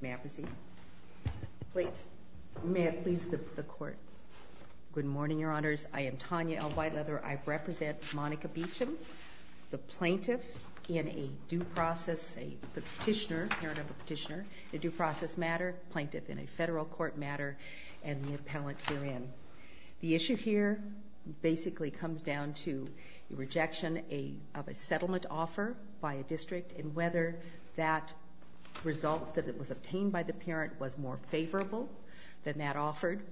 May I proceed? Please. May it please the court. Good morning, Your Honors. I am Tanya L. Whiteleather. I represent Monica Beauchamp, the plaintiff in a due process, a petitioner, parent of the petitioner, a due process matter, plaintiff in a federal court matter, and the appellant herein. The issue here basically comes down to the rejection of a settlement offer by a district and whether that result that was obtained by the parent was more favorable than that offered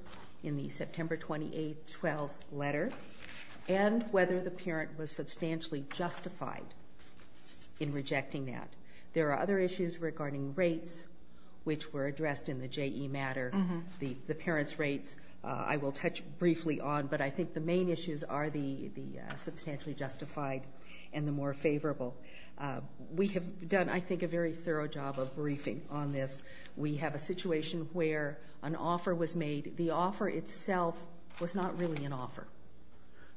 in the September 28, 12 letter, and whether the parent was substantially justified in rejecting that. There are other issues regarding rates, which were addressed in the JE matter, the parent's rates I will touch briefly on, but I think the main issues are the substantially justified and the more favorable. We have done, I think, a very thorough job of briefing on this. We have a situation where an offer was made. The offer itself was not really an offer.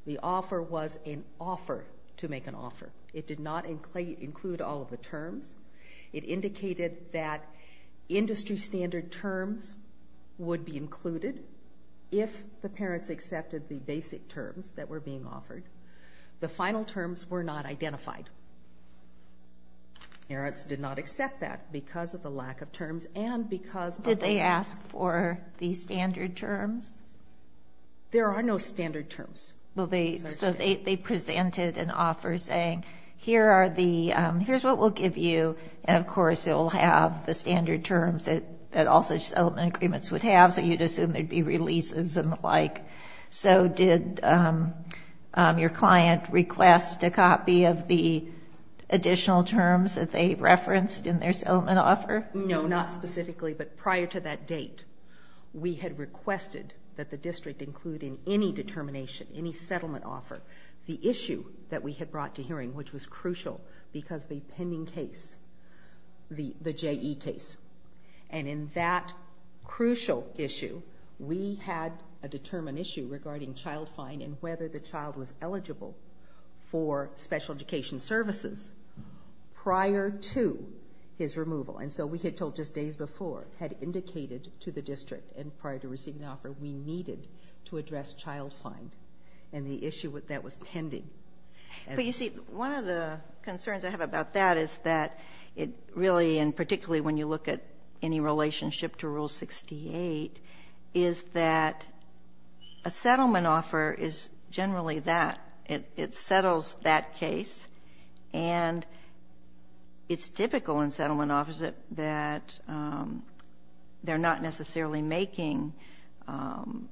The offer was an offer to make an offer. It did not include all of the terms. It indicated that industry standard terms would be included if the parents accepted the basic terms that were being offered. The final terms were not identified. Parents did not accept that because of the lack of terms and because of the... Did they ask for the standard terms? There are no standard terms. Well, they presented an offer saying, here are the, here's what we'll give you, and of all such settlement agreements would have, so you'd assume there'd be releases and the like. So did your client request a copy of the additional terms that they referenced in their settlement offer? No, not specifically, but prior to that date, we had requested that the district include in any determination, any settlement offer, the issue that we had brought to hearing, which was crucial because the pending case, the JE case, and in that crucial issue, we had a determined issue regarding child fine and whether the child was eligible for special education services prior to his removal. And so we had told just days before, had indicated to the district and prior to receiving the offer, we needed to address child fine and the issue that was pending. But you see, one of the concerns I have about that is that it really, and particularly when you look at any relationship to Rule 68, is that a settlement offer is generally that. It settles that case, and it's typical in settlement offers that they're not necessarily making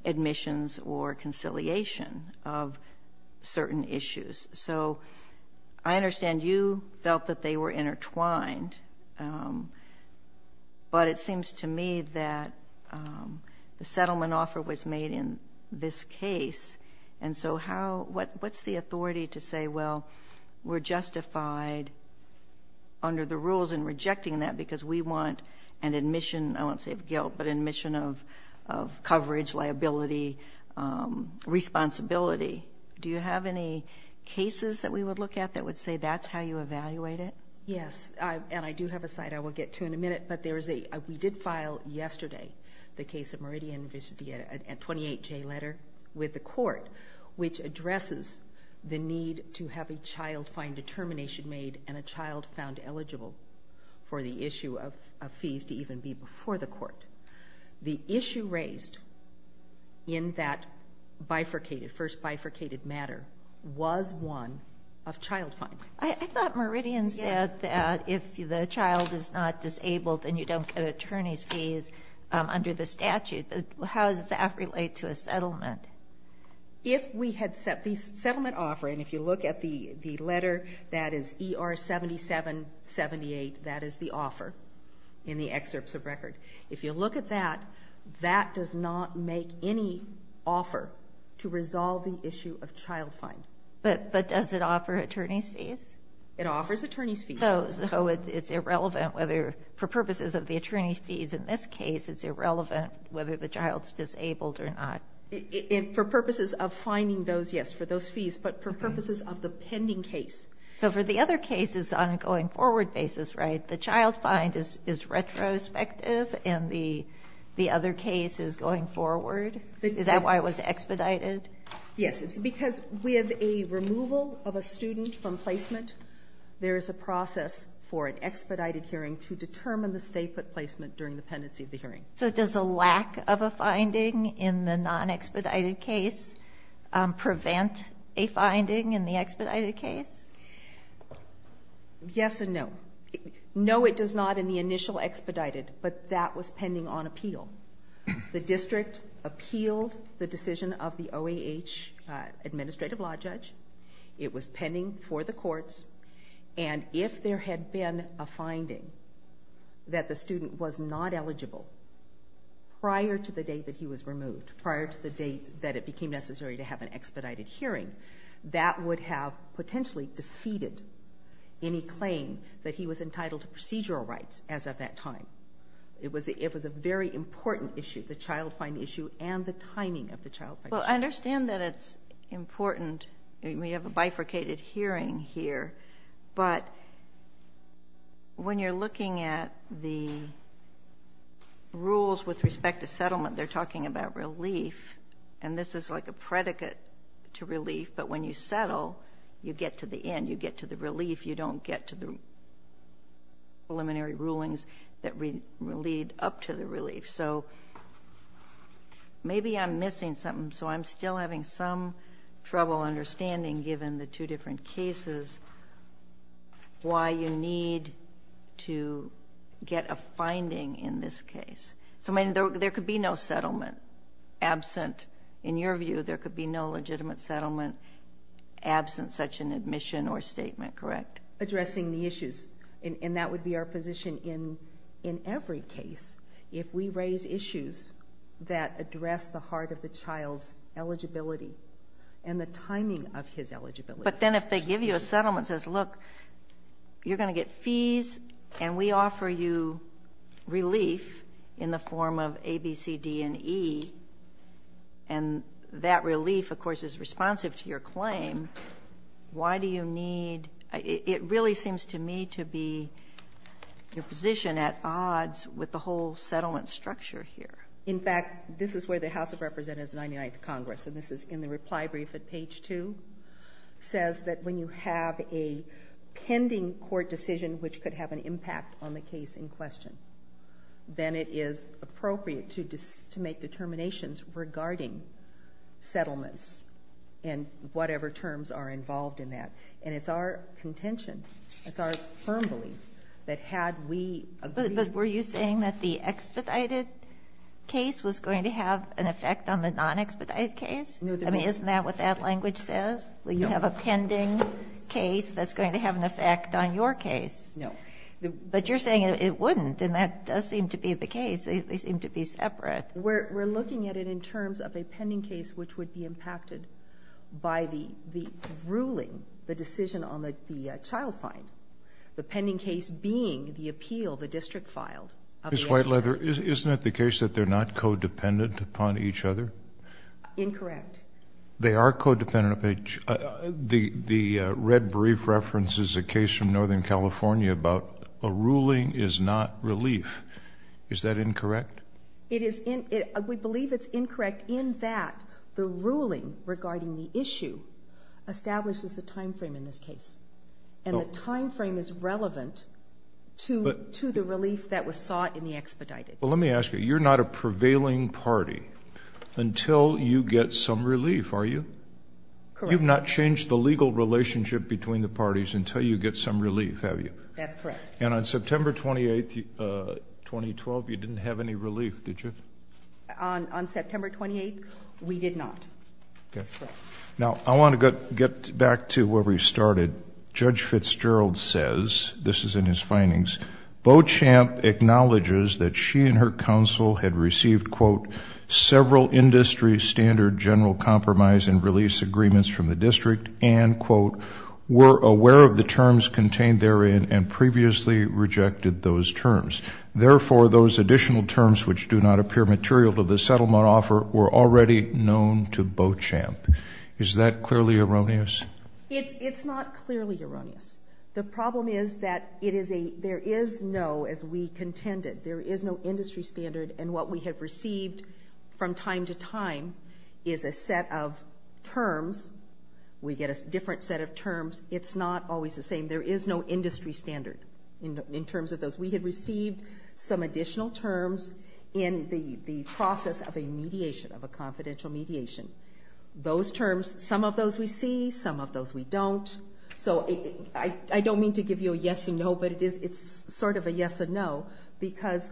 admissions or conciliation of certain issues. So I understand you felt that they were intertwined, but it seems to me that the settlement offer was made in this case, and so how, what's the authority to say, well, we're justified under the rules in rejecting that because we want an admission, I won't say of guilt, but admission of coverage, liability, responsibility. Do you have any cases that we would look at that would say that's how you evaluate it? Yes, and I do have a site I will get to in a minute, but there is a, we did file yesterday the case of Meridian, which is a 28-J letter with the court, which addresses the need to have a child fine determination made and a child found eligible for the issue of fees to even be before the court. The issue raised in that bifurcated, first bifurcated matter was one of child fines. I thought Meridian said that if the child is not disabled, then you don't get attorney's fees under the statute. How does that relate to a settlement? If we had set the settlement offer, and if you look at the letter that is ER-7778, that is the offer in the excerpts of record, if you look at that, that does not make any offer to resolve the issue of child fine. But does it offer attorney's fees? It offers attorney's fees. So it's irrelevant whether, for purposes of the attorney's fees in this case, it's irrelevant whether the child's disabled or not. For purposes of fining those, yes, for those fees, but for purposes of the pending case. So for the other cases on a going-forward basis, right, the child fine is retrospective and the other case is going forward? Is that why it was expedited? Yes. It's because with a removal of a student from placement, there is a process for an expedited hearing to determine the stay-put placement during the pendency of the hearing. So does a lack of a finding in the non-expedited case prevent a finding in the expedited case? Yes and no. No, it does not in the initial expedited, but that was pending on appeal. The district appealed the decision of the OAH administrative law judge. It was pending for the courts. And if there had been a finding that the student was not eligible prior to the day that he was removed, prior to the date that it became necessary to have an expedited hearing, that would have potentially defeated any claim that he was entitled to procedural rights as of that time. It was a very important issue, the child fine issue and the timing of the child fine issue. Well, I understand that it's important. We have a bifurcated hearing here, but when you're looking at the rules with respect to settlement, they're talking about relief and this is like a predicate to relief, but when you settle, you get to the end, you get to the relief, you don't get to the preliminary rulings that lead up to the relief. So maybe I'm missing something. So I'm still having some trouble understanding, given the two different cases, why you need to get a finding in this case. So there could be no settlement absent. In your view, there could be no legitimate settlement absent such an admission or statement, correct? Addressing the issues, and that would be our position in every case. If we raise issues that address the heart of the child's eligibility and the timing of his eligibility. But then if they give you a settlement that says, look, you're going to get fees and we offer you relief in the form of A, B, C, D, and E, and that relief, of course, is responsive to your claim, why do you need, it really seems to me to be your whole settlement structure here. In fact, this is where the House of Representatives 99th Congress, and this is in the reply brief at page two, says that when you have a pending court decision, which could have an impact on the case in question, then it is appropriate to make determinations regarding settlements and whatever terms are involved in that. And it's our contention, it's our firm belief that had we agreed. But were you saying that the expedited case was going to have an effect on the non-expedited case? No, there wasn't. I mean, isn't that what that language says? No. We have a pending case that's going to have an effect on your case. No. But you're saying it wouldn't, and that does seem to be the case. They seem to be separate. We're looking at it in terms of a pending case which would be impacted by the ruling, the decision on the child fine. The pending case being the appeal the district filed. Ms. Whiteleather, isn't it the case that they're not codependent upon each other? Incorrect. They are codependent of each, the red brief reference is a case from Northern California about a ruling is not relief. Is that incorrect? It is, we believe it's incorrect in that the ruling regarding the issue establishes a time frame in this case, and the time frame is relevant to the relief that was sought in the expedited. Well, let me ask you, you're not a prevailing party until you get some relief, are you? Correct. You've not changed the legal relationship between the parties until you get some relief, have you? That's correct. And on September 28th, 2012, you didn't have any relief, did you? On September 28th, we did not. That's correct. Now, I want to get back to where we started. Judge Fitzgerald says, this is in his findings, Beauchamp acknowledges that she and her counsel had received, quote, several industry standard general compromise and release agreements from the district and quote, were aware of the terms contained therein and previously rejected those terms. Therefore, those additional terms, which do not appear material to the settlement offer were already known to Beauchamp. Is that clearly erroneous? It's not clearly erroneous. The problem is that it is a, there is no, as we contended, there is no industry standard and what we have received from time to time is a set of terms. We get a different set of terms. It's not always the same. There is no industry standard in terms of those. We had received some additional terms in the process of a mediation, of a confidential mediation. Those terms, some of those we see, some of those we don't. So I don't mean to give you a yes and no, but it is, it's sort of a yes and no because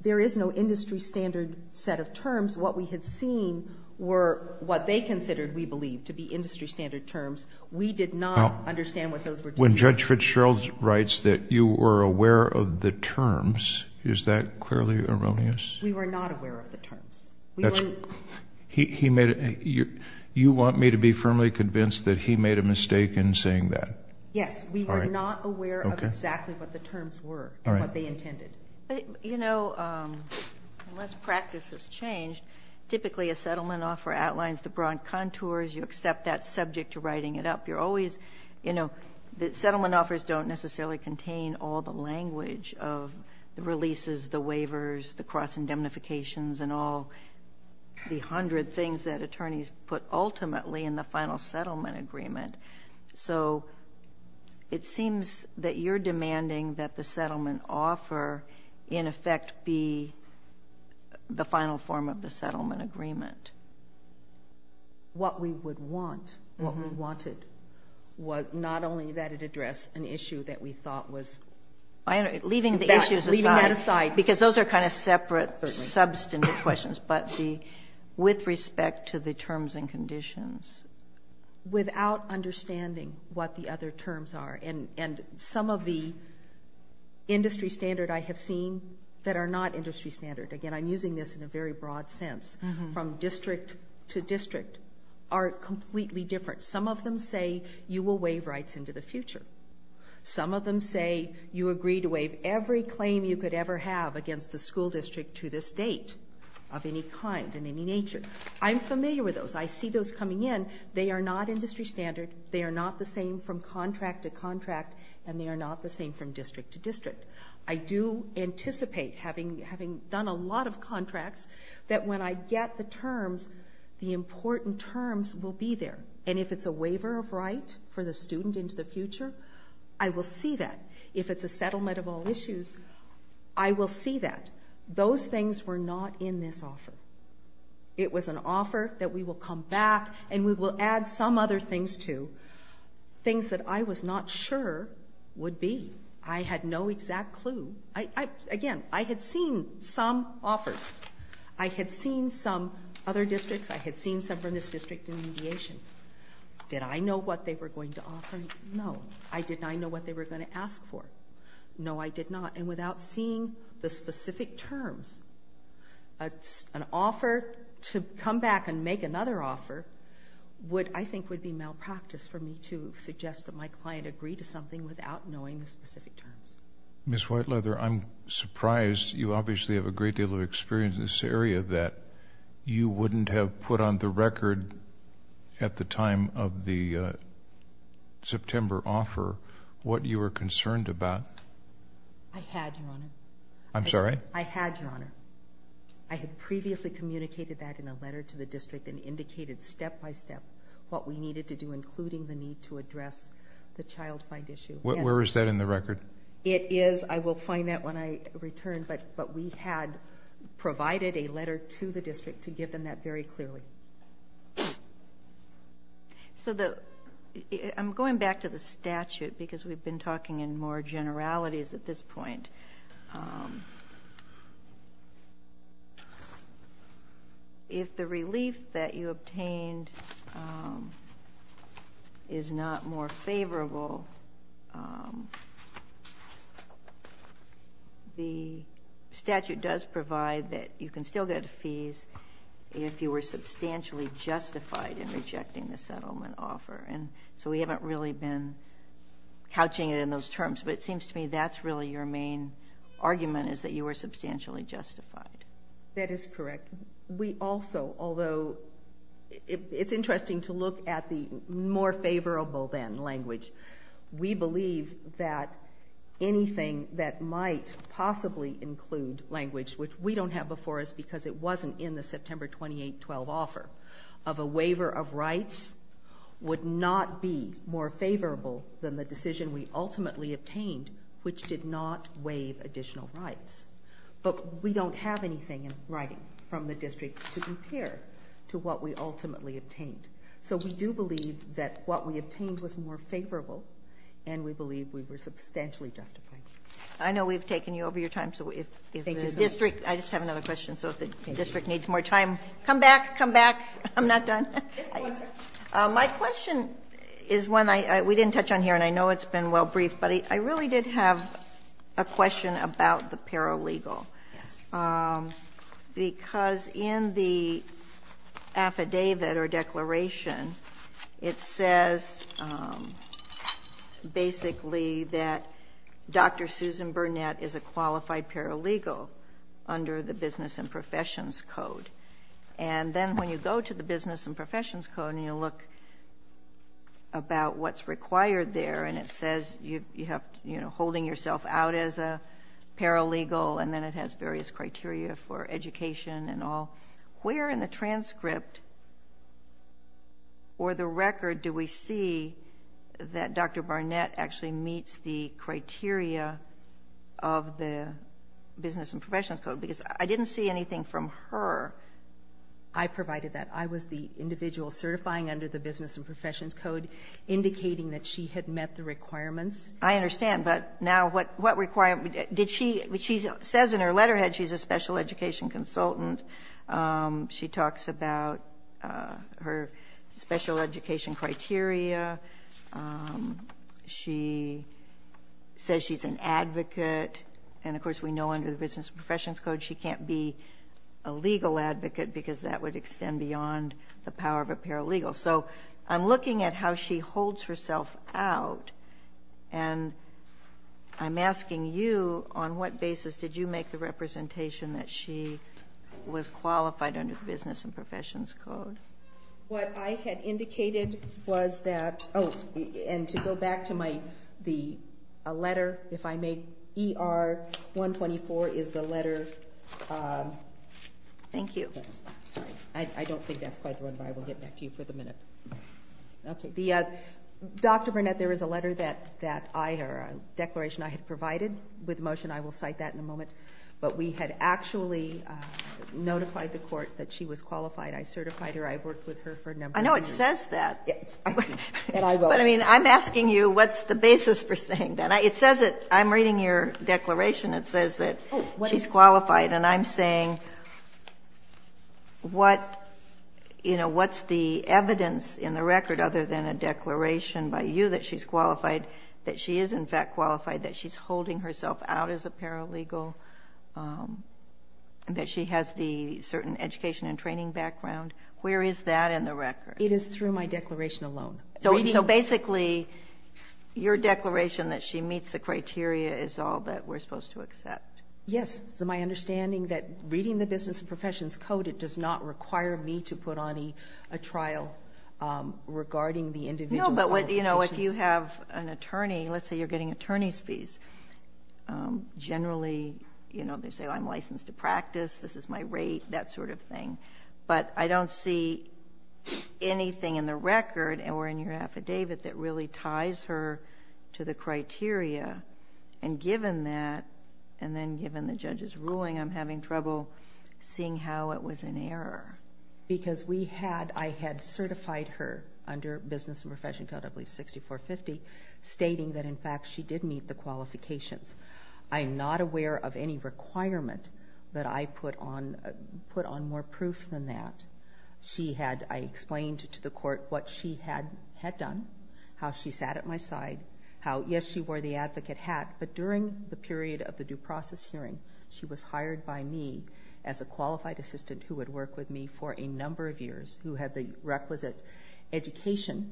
there is no industry standard set of terms. What we had seen were what they considered, we believe, to be industry standard terms. We did not understand what those were. When Judge Fitzgerald writes that you were aware of the terms, is that clearly erroneous? We were not aware of the terms. We were not. He made a, you want me to be firmly convinced that he made a mistake in saying that? Yes. We were not aware of exactly what the terms were and what they intended. But, you know, unless practice has changed, typically a settlement offer outlines the broad contours. You accept that subject to writing it up. You're always, you know, the settlement offers don't necessarily contain all the the hundred things that attorneys put ultimately in the final settlement agreement. So it seems that you're demanding that the settlement offer in effect be the final form of the settlement agreement. What we would want, what we wanted was not only that it address an issue that we thought was. I don't know, leaving the issues aside, because those are kind of separate or with respect to the terms and conditions. Without understanding what the other terms are and some of the industry standard I have seen that are not industry standard. Again, I'm using this in a very broad sense from district to district are completely different. Some of them say you will waive rights into the future. Some of them say you agree to waive every claim you could ever have against the kind in any nature. I'm familiar with those. I see those coming in. They are not industry standard. They are not the same from contract to contract, and they are not the same from district to district. I do anticipate having, having done a lot of contracts that when I get the terms, the important terms will be there. And if it's a waiver of right for the student into the future, I will see that. If it's a settlement of all issues, I will see that those things were not in this offer. It was an offer that we will come back and we will add some other things to, things that I was not sure would be. I had no exact clue. I, I, again, I had seen some offers. I had seen some other districts. I had seen some from this district in mediation. Did I know what they were going to offer? No, I did not know what they were going to ask for. No, I did not. And without seeing the specific terms, an offer to come back and make another offer would, I think would be malpractice for me to suggest that my client agree to something without knowing the specific terms. Ms. Whiteleather, I'm surprised you obviously have a great deal of experience in this area that you wouldn't have put on the record at the time of the September offer what you were concerned about. I had, Your Honor. I'm sorry? I had, Your Honor. I had previously communicated that in a letter to the district and indicated step-by-step what we needed to do, including the need to address the child find issue. Where is that in the record? It is. I will find that when I return, but, but we had provided a letter to the district to give them that very clearly. So the, I'm going back to the statute because we've been talking in more generalities at this point. If the relief that you obtained is not more favorable, the statute does provide that you can still get fees if you were substantially justified in rejecting the settlement offer. And so we haven't really been couching it in those terms, but it seems to me that's really your main argument is that you were substantially justified. That is correct. We also, although it's interesting to look at the more favorable than language, we believe that anything that might possibly include language, which we don't have before us because it wasn't in the September 28-12 offer of a waiver of not be more favorable than the decision we ultimately obtained, which did not waive additional rights. But we don't have anything in writing from the district to compare to what we ultimately obtained. So we do believe that what we obtained was more favorable and we believe we were substantially justified. I know we've taken you over your time. So if the district, I just have another question. So if the district needs more time, come back, come back. I'm not done. My question is one I, we didn't touch on here and I know it's been well briefed, but I really did have a question about the paralegal. Because in the affidavit or declaration, it says basically that Dr. Susan Burnett is a qualified paralegal under the Business and Professions Code. And then when you go to the Business and Professions Code and you look about what's required there and it says you have, you know, holding yourself out as a paralegal and then it has various criteria for education and all. Where in the transcript or the record do we see that Dr. Burnett actually meets the criteria of the Business and Professions Code? Because I didn't see anything from her. I provided that. I was the individual certifying under the Business and Professions Code indicating that she had met the requirements. I understand. But now what requirement, did she, she says in her letterhead she's a special education consultant. She talks about her special education criteria. She says she's an advocate. And of course we know under the Business and Professions Code she can't be a legal advocate because that would extend beyond the power of a paralegal. So I'm looking at how she holds herself out and I'm asking you on what basis did you make the representation that she was qualified under the Business and Professions Code? What I had indicated was that, oh, and to go back to my, the letter, if I may, ER 124 is the letter. Thank you. I don't think that's quite the one, but I will get back to you for the minute. Okay. The Dr. Burnett, there was a letter that, that I, or a declaration I had provided with motion. I will cite that in a moment, but we had actually notified the court that she was qualified. I certified her. I've worked with her for a number of years. I know it says that. Yes. And I wrote it. But I mean, I'm asking you what's the basis for saying that? It says it, I'm reading your declaration. It says that she's qualified. And I'm saying what, you know, what's the evidence in the record other than a declaration by you that she's qualified, that she is in fact qualified, that she's holding herself out as a paralegal, that she has the certain education and training background, where is that in the record? It is through my declaration alone. So basically, your declaration that she meets the criteria is all that we're supposed to accept. Yes. It's my understanding that reading the Business and Professions Code, it does not require me to put on a trial regarding the individual qualifications. No, but, you know, if you have an attorney, let's say you're getting attorney's fees, generally, you know, they say I'm licensed to practice, this is my rate, that sort of thing. But I don't see anything in the record or in your affidavit that really ties her to the criteria. And given that, and then given the judge's ruling, I'm having trouble seeing how it was in error. Because we had, I had certified her under Business and Professions Code, I believe, 6450, stating that, in fact, she did meet the qualifications. I'm not aware of any requirement that I put on, put on more proof than that. She had, I explained to the court what she had done, how she sat at my side, how, yes, she wore the advocate hat, but during the period of the due process hearing, she was hired by me as a qualified assistant who would work with me for a number of years, who had the requisite education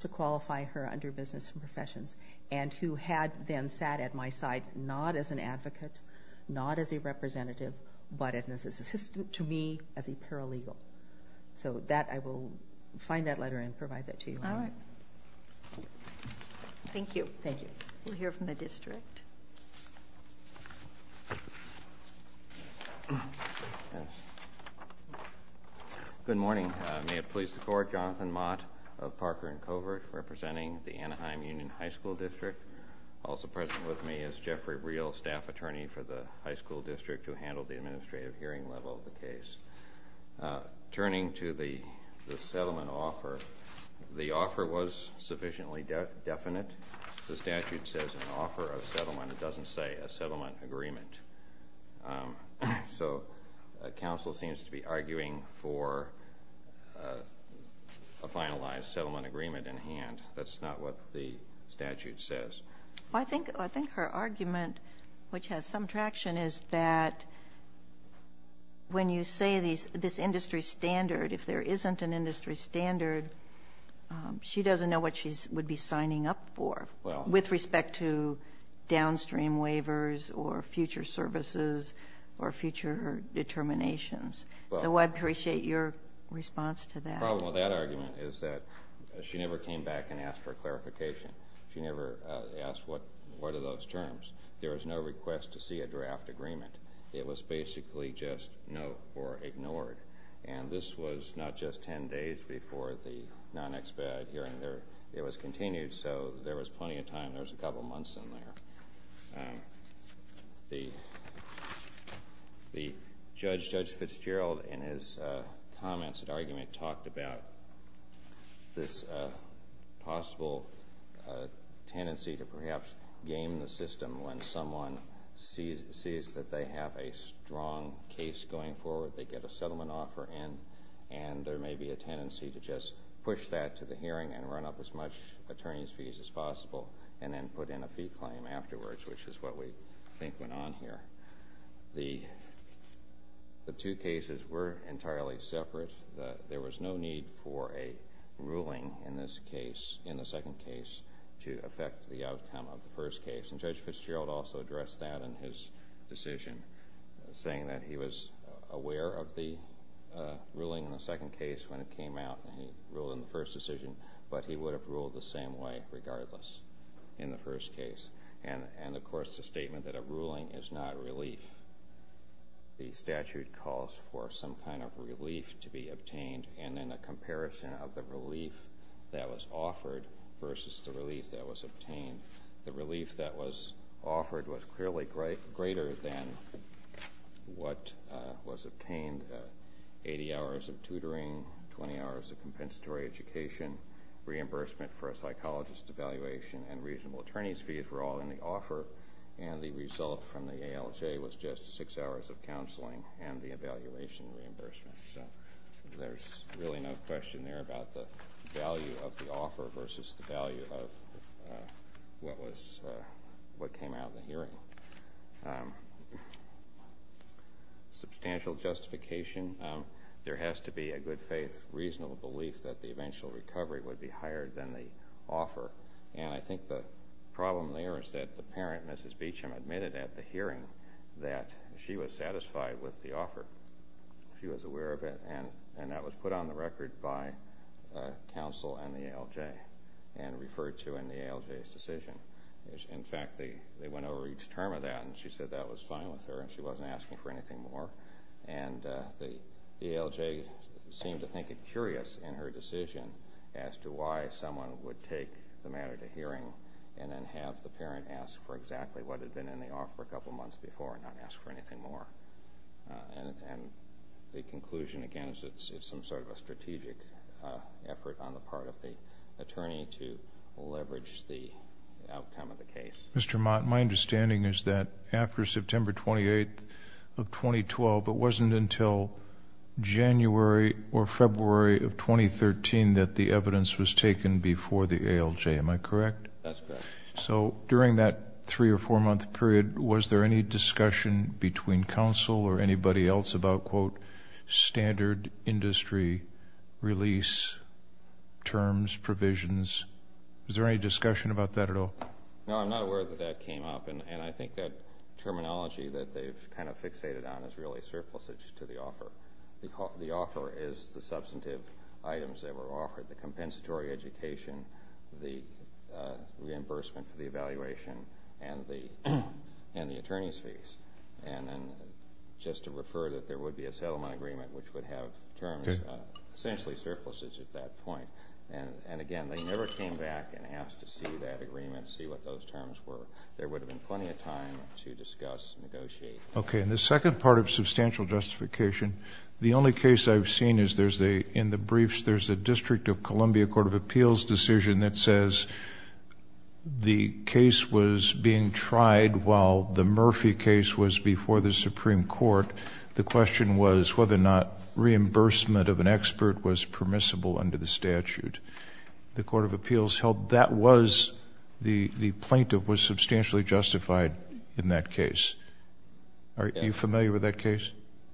to qualify her under Business and Professions Code, but she sat at my side, not as an advocate, not as a representative, but as an assistant to me as a paralegal. So that, I will find that letter and provide that to you. All right. Thank you. Thank you. We'll hear from the district. Good morning. May it please the court, Jonathan Mott of Parker and Covert, representing the Anaheim Union High School District. Also present with me is Jeffrey Breal, staff attorney for the high school district who handled the administrative hearing level of the case. Turning to the settlement offer, the offer was sufficiently definite. The statute says an offer of settlement. It doesn't say a settlement agreement. So a council seems to be arguing for a finalized settlement agreement in hand. That's not what the statute says. I think her argument, which has some traction, is that when you say this industry standard, if there isn't an industry standard, she doesn't know what she would be signing up for with respect to downstream waivers or future services or future determinations. So I'd appreciate your response to that. The problem with that argument is that she never came back and asked for clarification. She never asked, what are those terms? There was no request to see a draft agreement. It was basically just no or ignored. And this was not just 10 days before the non-expat hearing. It was continued. So there was plenty of time. There was a couple months in there. The judge, Judge Fitzgerald, in his comments and argument, talked about this possible tendency to perhaps game the system when someone sees that they have a strong case going forward. They get a settlement offer in. And there may be a tendency to just push that to the hearing and run up as much attorney's fees as possible, and then put in a fee claim afterwards, which is what we think went on here. The two cases were entirely separate. There was no need for a ruling in this case, in the second case, to affect the outcome of the first case. And Judge Fitzgerald also addressed that in his decision, saying that he was aware of the ruling in the second case when it came out, and he ruled in the first decision. But he would have ruled the same way, regardless, in the first case. And of course, the statement that a ruling is not a relief, the statute calls for some kind of relief to be obtained. And then a comparison of the relief that was offered versus the relief that was obtained. The relief that was offered was clearly greater than what was obtained, 80 hours of tutoring, 20 hours of compensatory education, reimbursement for a psychologist evaluation, and reasonable attorney's fees were all in the offer. And the result from the ALJ was just six hours of counseling and the evaluation reimbursement. There's really no question there about the value of the offer versus the value of what came out in the hearing. Substantial justification. There has to be a good faith, reasonable belief that the eventual recovery would be higher than the offer. And I think the problem there is that the parent, Mrs. Beecham, admitted at the hearing that she was satisfied with the offer. She was aware of it. And that was put on the record by counsel and the ALJ and referred to in the ALJ's decision. In fact, they went over each term of that, and she said that was fine with her, and she wasn't asking for anything more. And the ALJ seemed to think it curious in her decision as to why someone would take the matter to hearing and then have the parent ask for exactly what had been in the offer a couple months before and not ask for anything more. And the conclusion, again, is it's some sort of a strategic effort on the part of the attorney to leverage the outcome of the case. Mr. Mott, my understanding is that after September 28 of 2012, it wasn't until January or February of 2013 that the evidence was taken before the ALJ. Am I correct? That's correct. So during that three or four month period, was there any discussion between counsel or anybody else about, quote, standard industry release terms, provisions? Was there any discussion about that at all? No, I'm not aware that that came up. And I think that terminology that they've kind of fixated on is really surplusage to the offer. The offer is the substantive items that were offered, the compensatory education, the reimbursement for the evaluation, and the attorney's fees. And then just to refer that there would be a settlement agreement which would have terms, essentially, surplusage at that point. And again, they never came back and asked to see that agreement, see what those terms were. There would have been plenty of time to discuss, negotiate. OK, and the second part of substantial justification, the only case I've seen is there's a, in the briefs, there's a District of Columbia Court of Appeals decision that says the case was being tried while the Murphy case was before the Supreme Court. The question was whether or not reimbursement of an expert was permissible under the statute. The Court of Appeals held that was, the plaintiff was substantially justified in that case. Are you familiar with that case?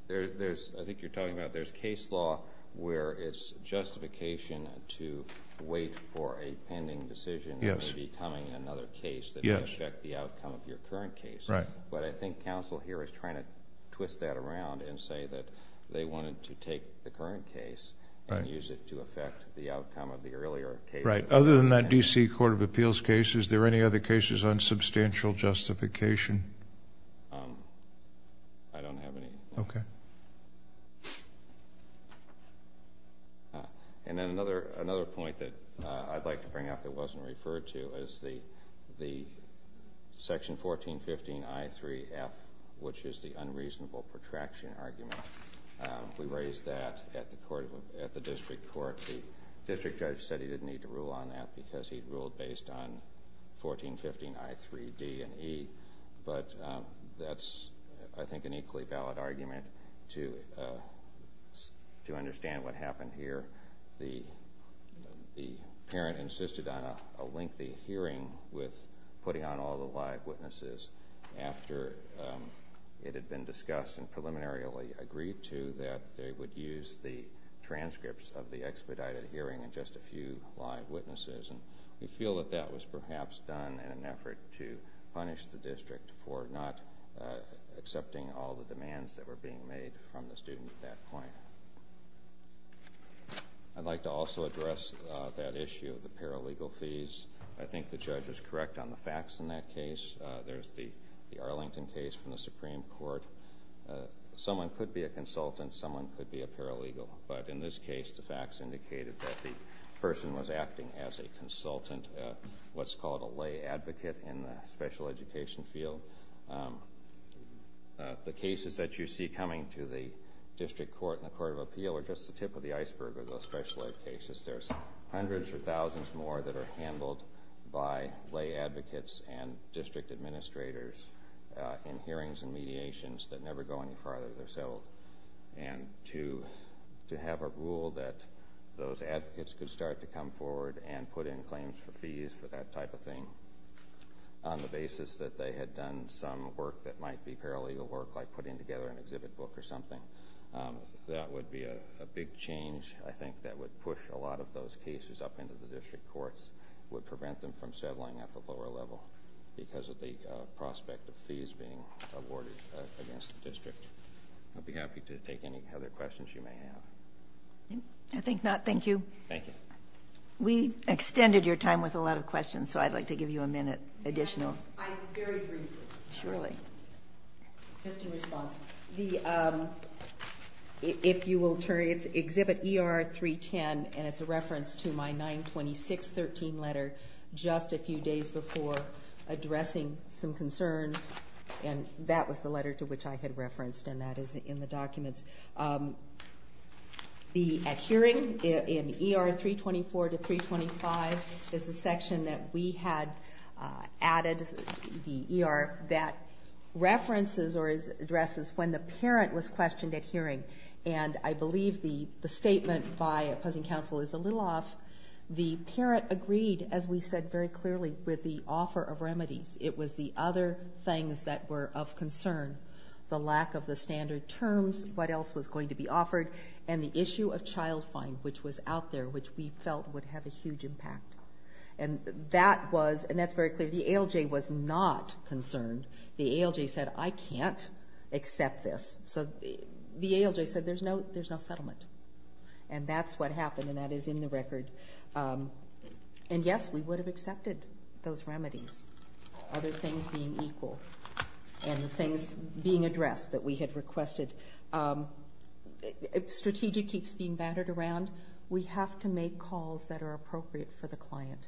There's, I think you're talking about, there's case law where it's justification to wait for a pending decision that may be coming in another case that may affect the outcome of your current case. But I think counsel here is trying to twist that around and say that they wanted to take the current case and use it to affect the outcome of the earlier case. Right, other than that DC Court of Appeals case, is there any other cases on substantial justification? I don't have any. OK. And then another point that I'd like to bring up that wasn't referred to is the Section 1415 I3F, which is the unreasonable protraction argument. We raised that at the District Court. The District Judge said he didn't need to rule on that because he ruled based on 1415 I3D and E. But that's, I think, an equally valid argument to understand what happened here. The parent insisted on a lengthy hearing with putting on all the live witnesses after it had been discussed and preliminarily agreed to that they would use the transcripts of the expedited hearing and just a few live witnesses. And we feel that that was perhaps done in an effort to punish the district for not accepting all the demands that were being made from the student at that point. I'd like to also address that issue of the paralegal fees. I think the judge is correct on the facts in that case. There's the Arlington case from the Supreme Court. Someone could be a consultant. Someone could be a paralegal. But in this case, the facts indicated that the person was acting as a consultant, what's called a lay advocate in the special education field. The cases that you see coming to the District Court and the Court of Appeal are just the tip of the iceberg of those special ed cases. There's hundreds or thousands more that are handled by lay advocates and district administrators in hearings and mediations that never go any farther. They're settled. And to have a rule that those advocates could start to come forward and put in claims for fees for that type of thing on the basis that they had done some work that might be paralegal work, like putting together an exhibit book or something, that would be a big change, I think, that would push a lot of those cases up into the district courts, would prevent them from settling at the lower level because of the prospect of fees being awarded against the district. I'll be happy to take any other questions you may have. I think not. Thank you. Thank you. We extended your time with a lot of questions, so I'd like to give you a minute additional. I'm very brief. Surely. Just in response, if you will turn, it's exhibit ER 310, and it's a reference to my 926.13 letter just a few days before addressing some concerns. And that was the letter to which I had referenced, and that is in the documents. The adhering in ER 324 to 325 is a section that we had added, the ER, that references or addresses when the parent was questioned at hearing. And I believe the statement by opposing counsel is a little off. The parent agreed, as we said very clearly, with the offer of remedies. It was the other things that were of concern, the lack of the standard terms, what else was going to be offered, and the issue of child fine, which was out there, which we felt would have a huge impact. And that was, and that's very clear, the ALJ was not concerned. The ALJ said, I can't accept this. So the ALJ said, there's no settlement. And that's what happened, and that is in the record. And yes, we would have accepted those remedies, other things being equal, and the things being addressed that we had requested. Strategic keeps being battered around. We have to make calls that are appropriate for the client.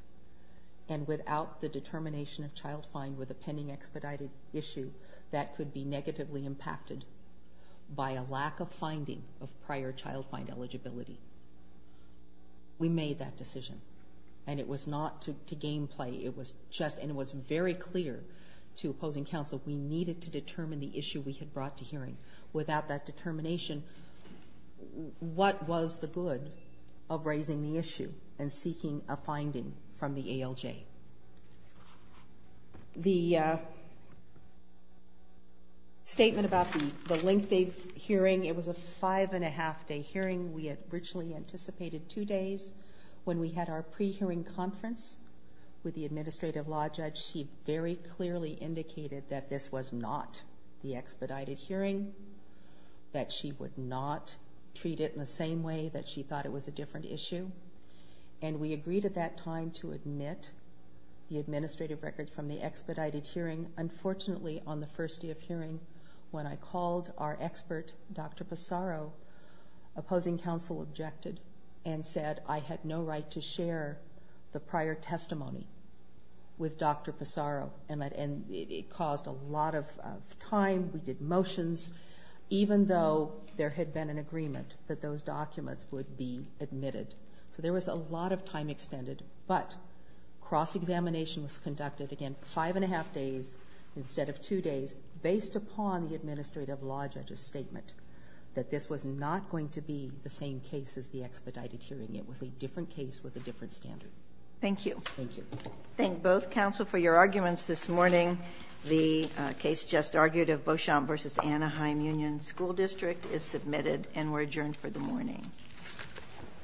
And without the determination of child fine with a pending expedited issue, that could be negatively impacted by a lack of finding of prior child fine eligibility. We made that decision, and it was not to game play. It was just, and it was very clear to opposing counsel, we needed to determine the issue we had brought to hearing. Without that determination, what was the good of raising the issue and seeking a finding from the ALJ? The statement about the length of hearing, it was a five and a half day hearing. We had originally anticipated two days. When we had our pre-hearing conference with the administrative law judge, she very clearly indicated that this was not the expedited hearing, that she would not treat it in the same way, that she thought it was a different issue. And we agreed at that time to admit the administrative record from the expedited hearing. Unfortunately, on the first day of hearing, when I called our expert, Dr. Pissarro, opposing counsel objected and said I had no right to share the prior testimony with Dr. Pissarro. And it caused a lot of time. We did motions, even though there had been an agreement that those documents would be admitted. So there was a lot of time extended. But cross-examination was conducted, again, five and a half days instead of two days, based upon the administrative law judge's statement that this was not going to be the same case as the expedited hearing. It was a different case with a different standard. Thank you. Thank you. Thank both counsel for your arguments this morning. The case just argued of Beauchamp versus Anaheim Union School District is submitted and we're adjourned for the morning.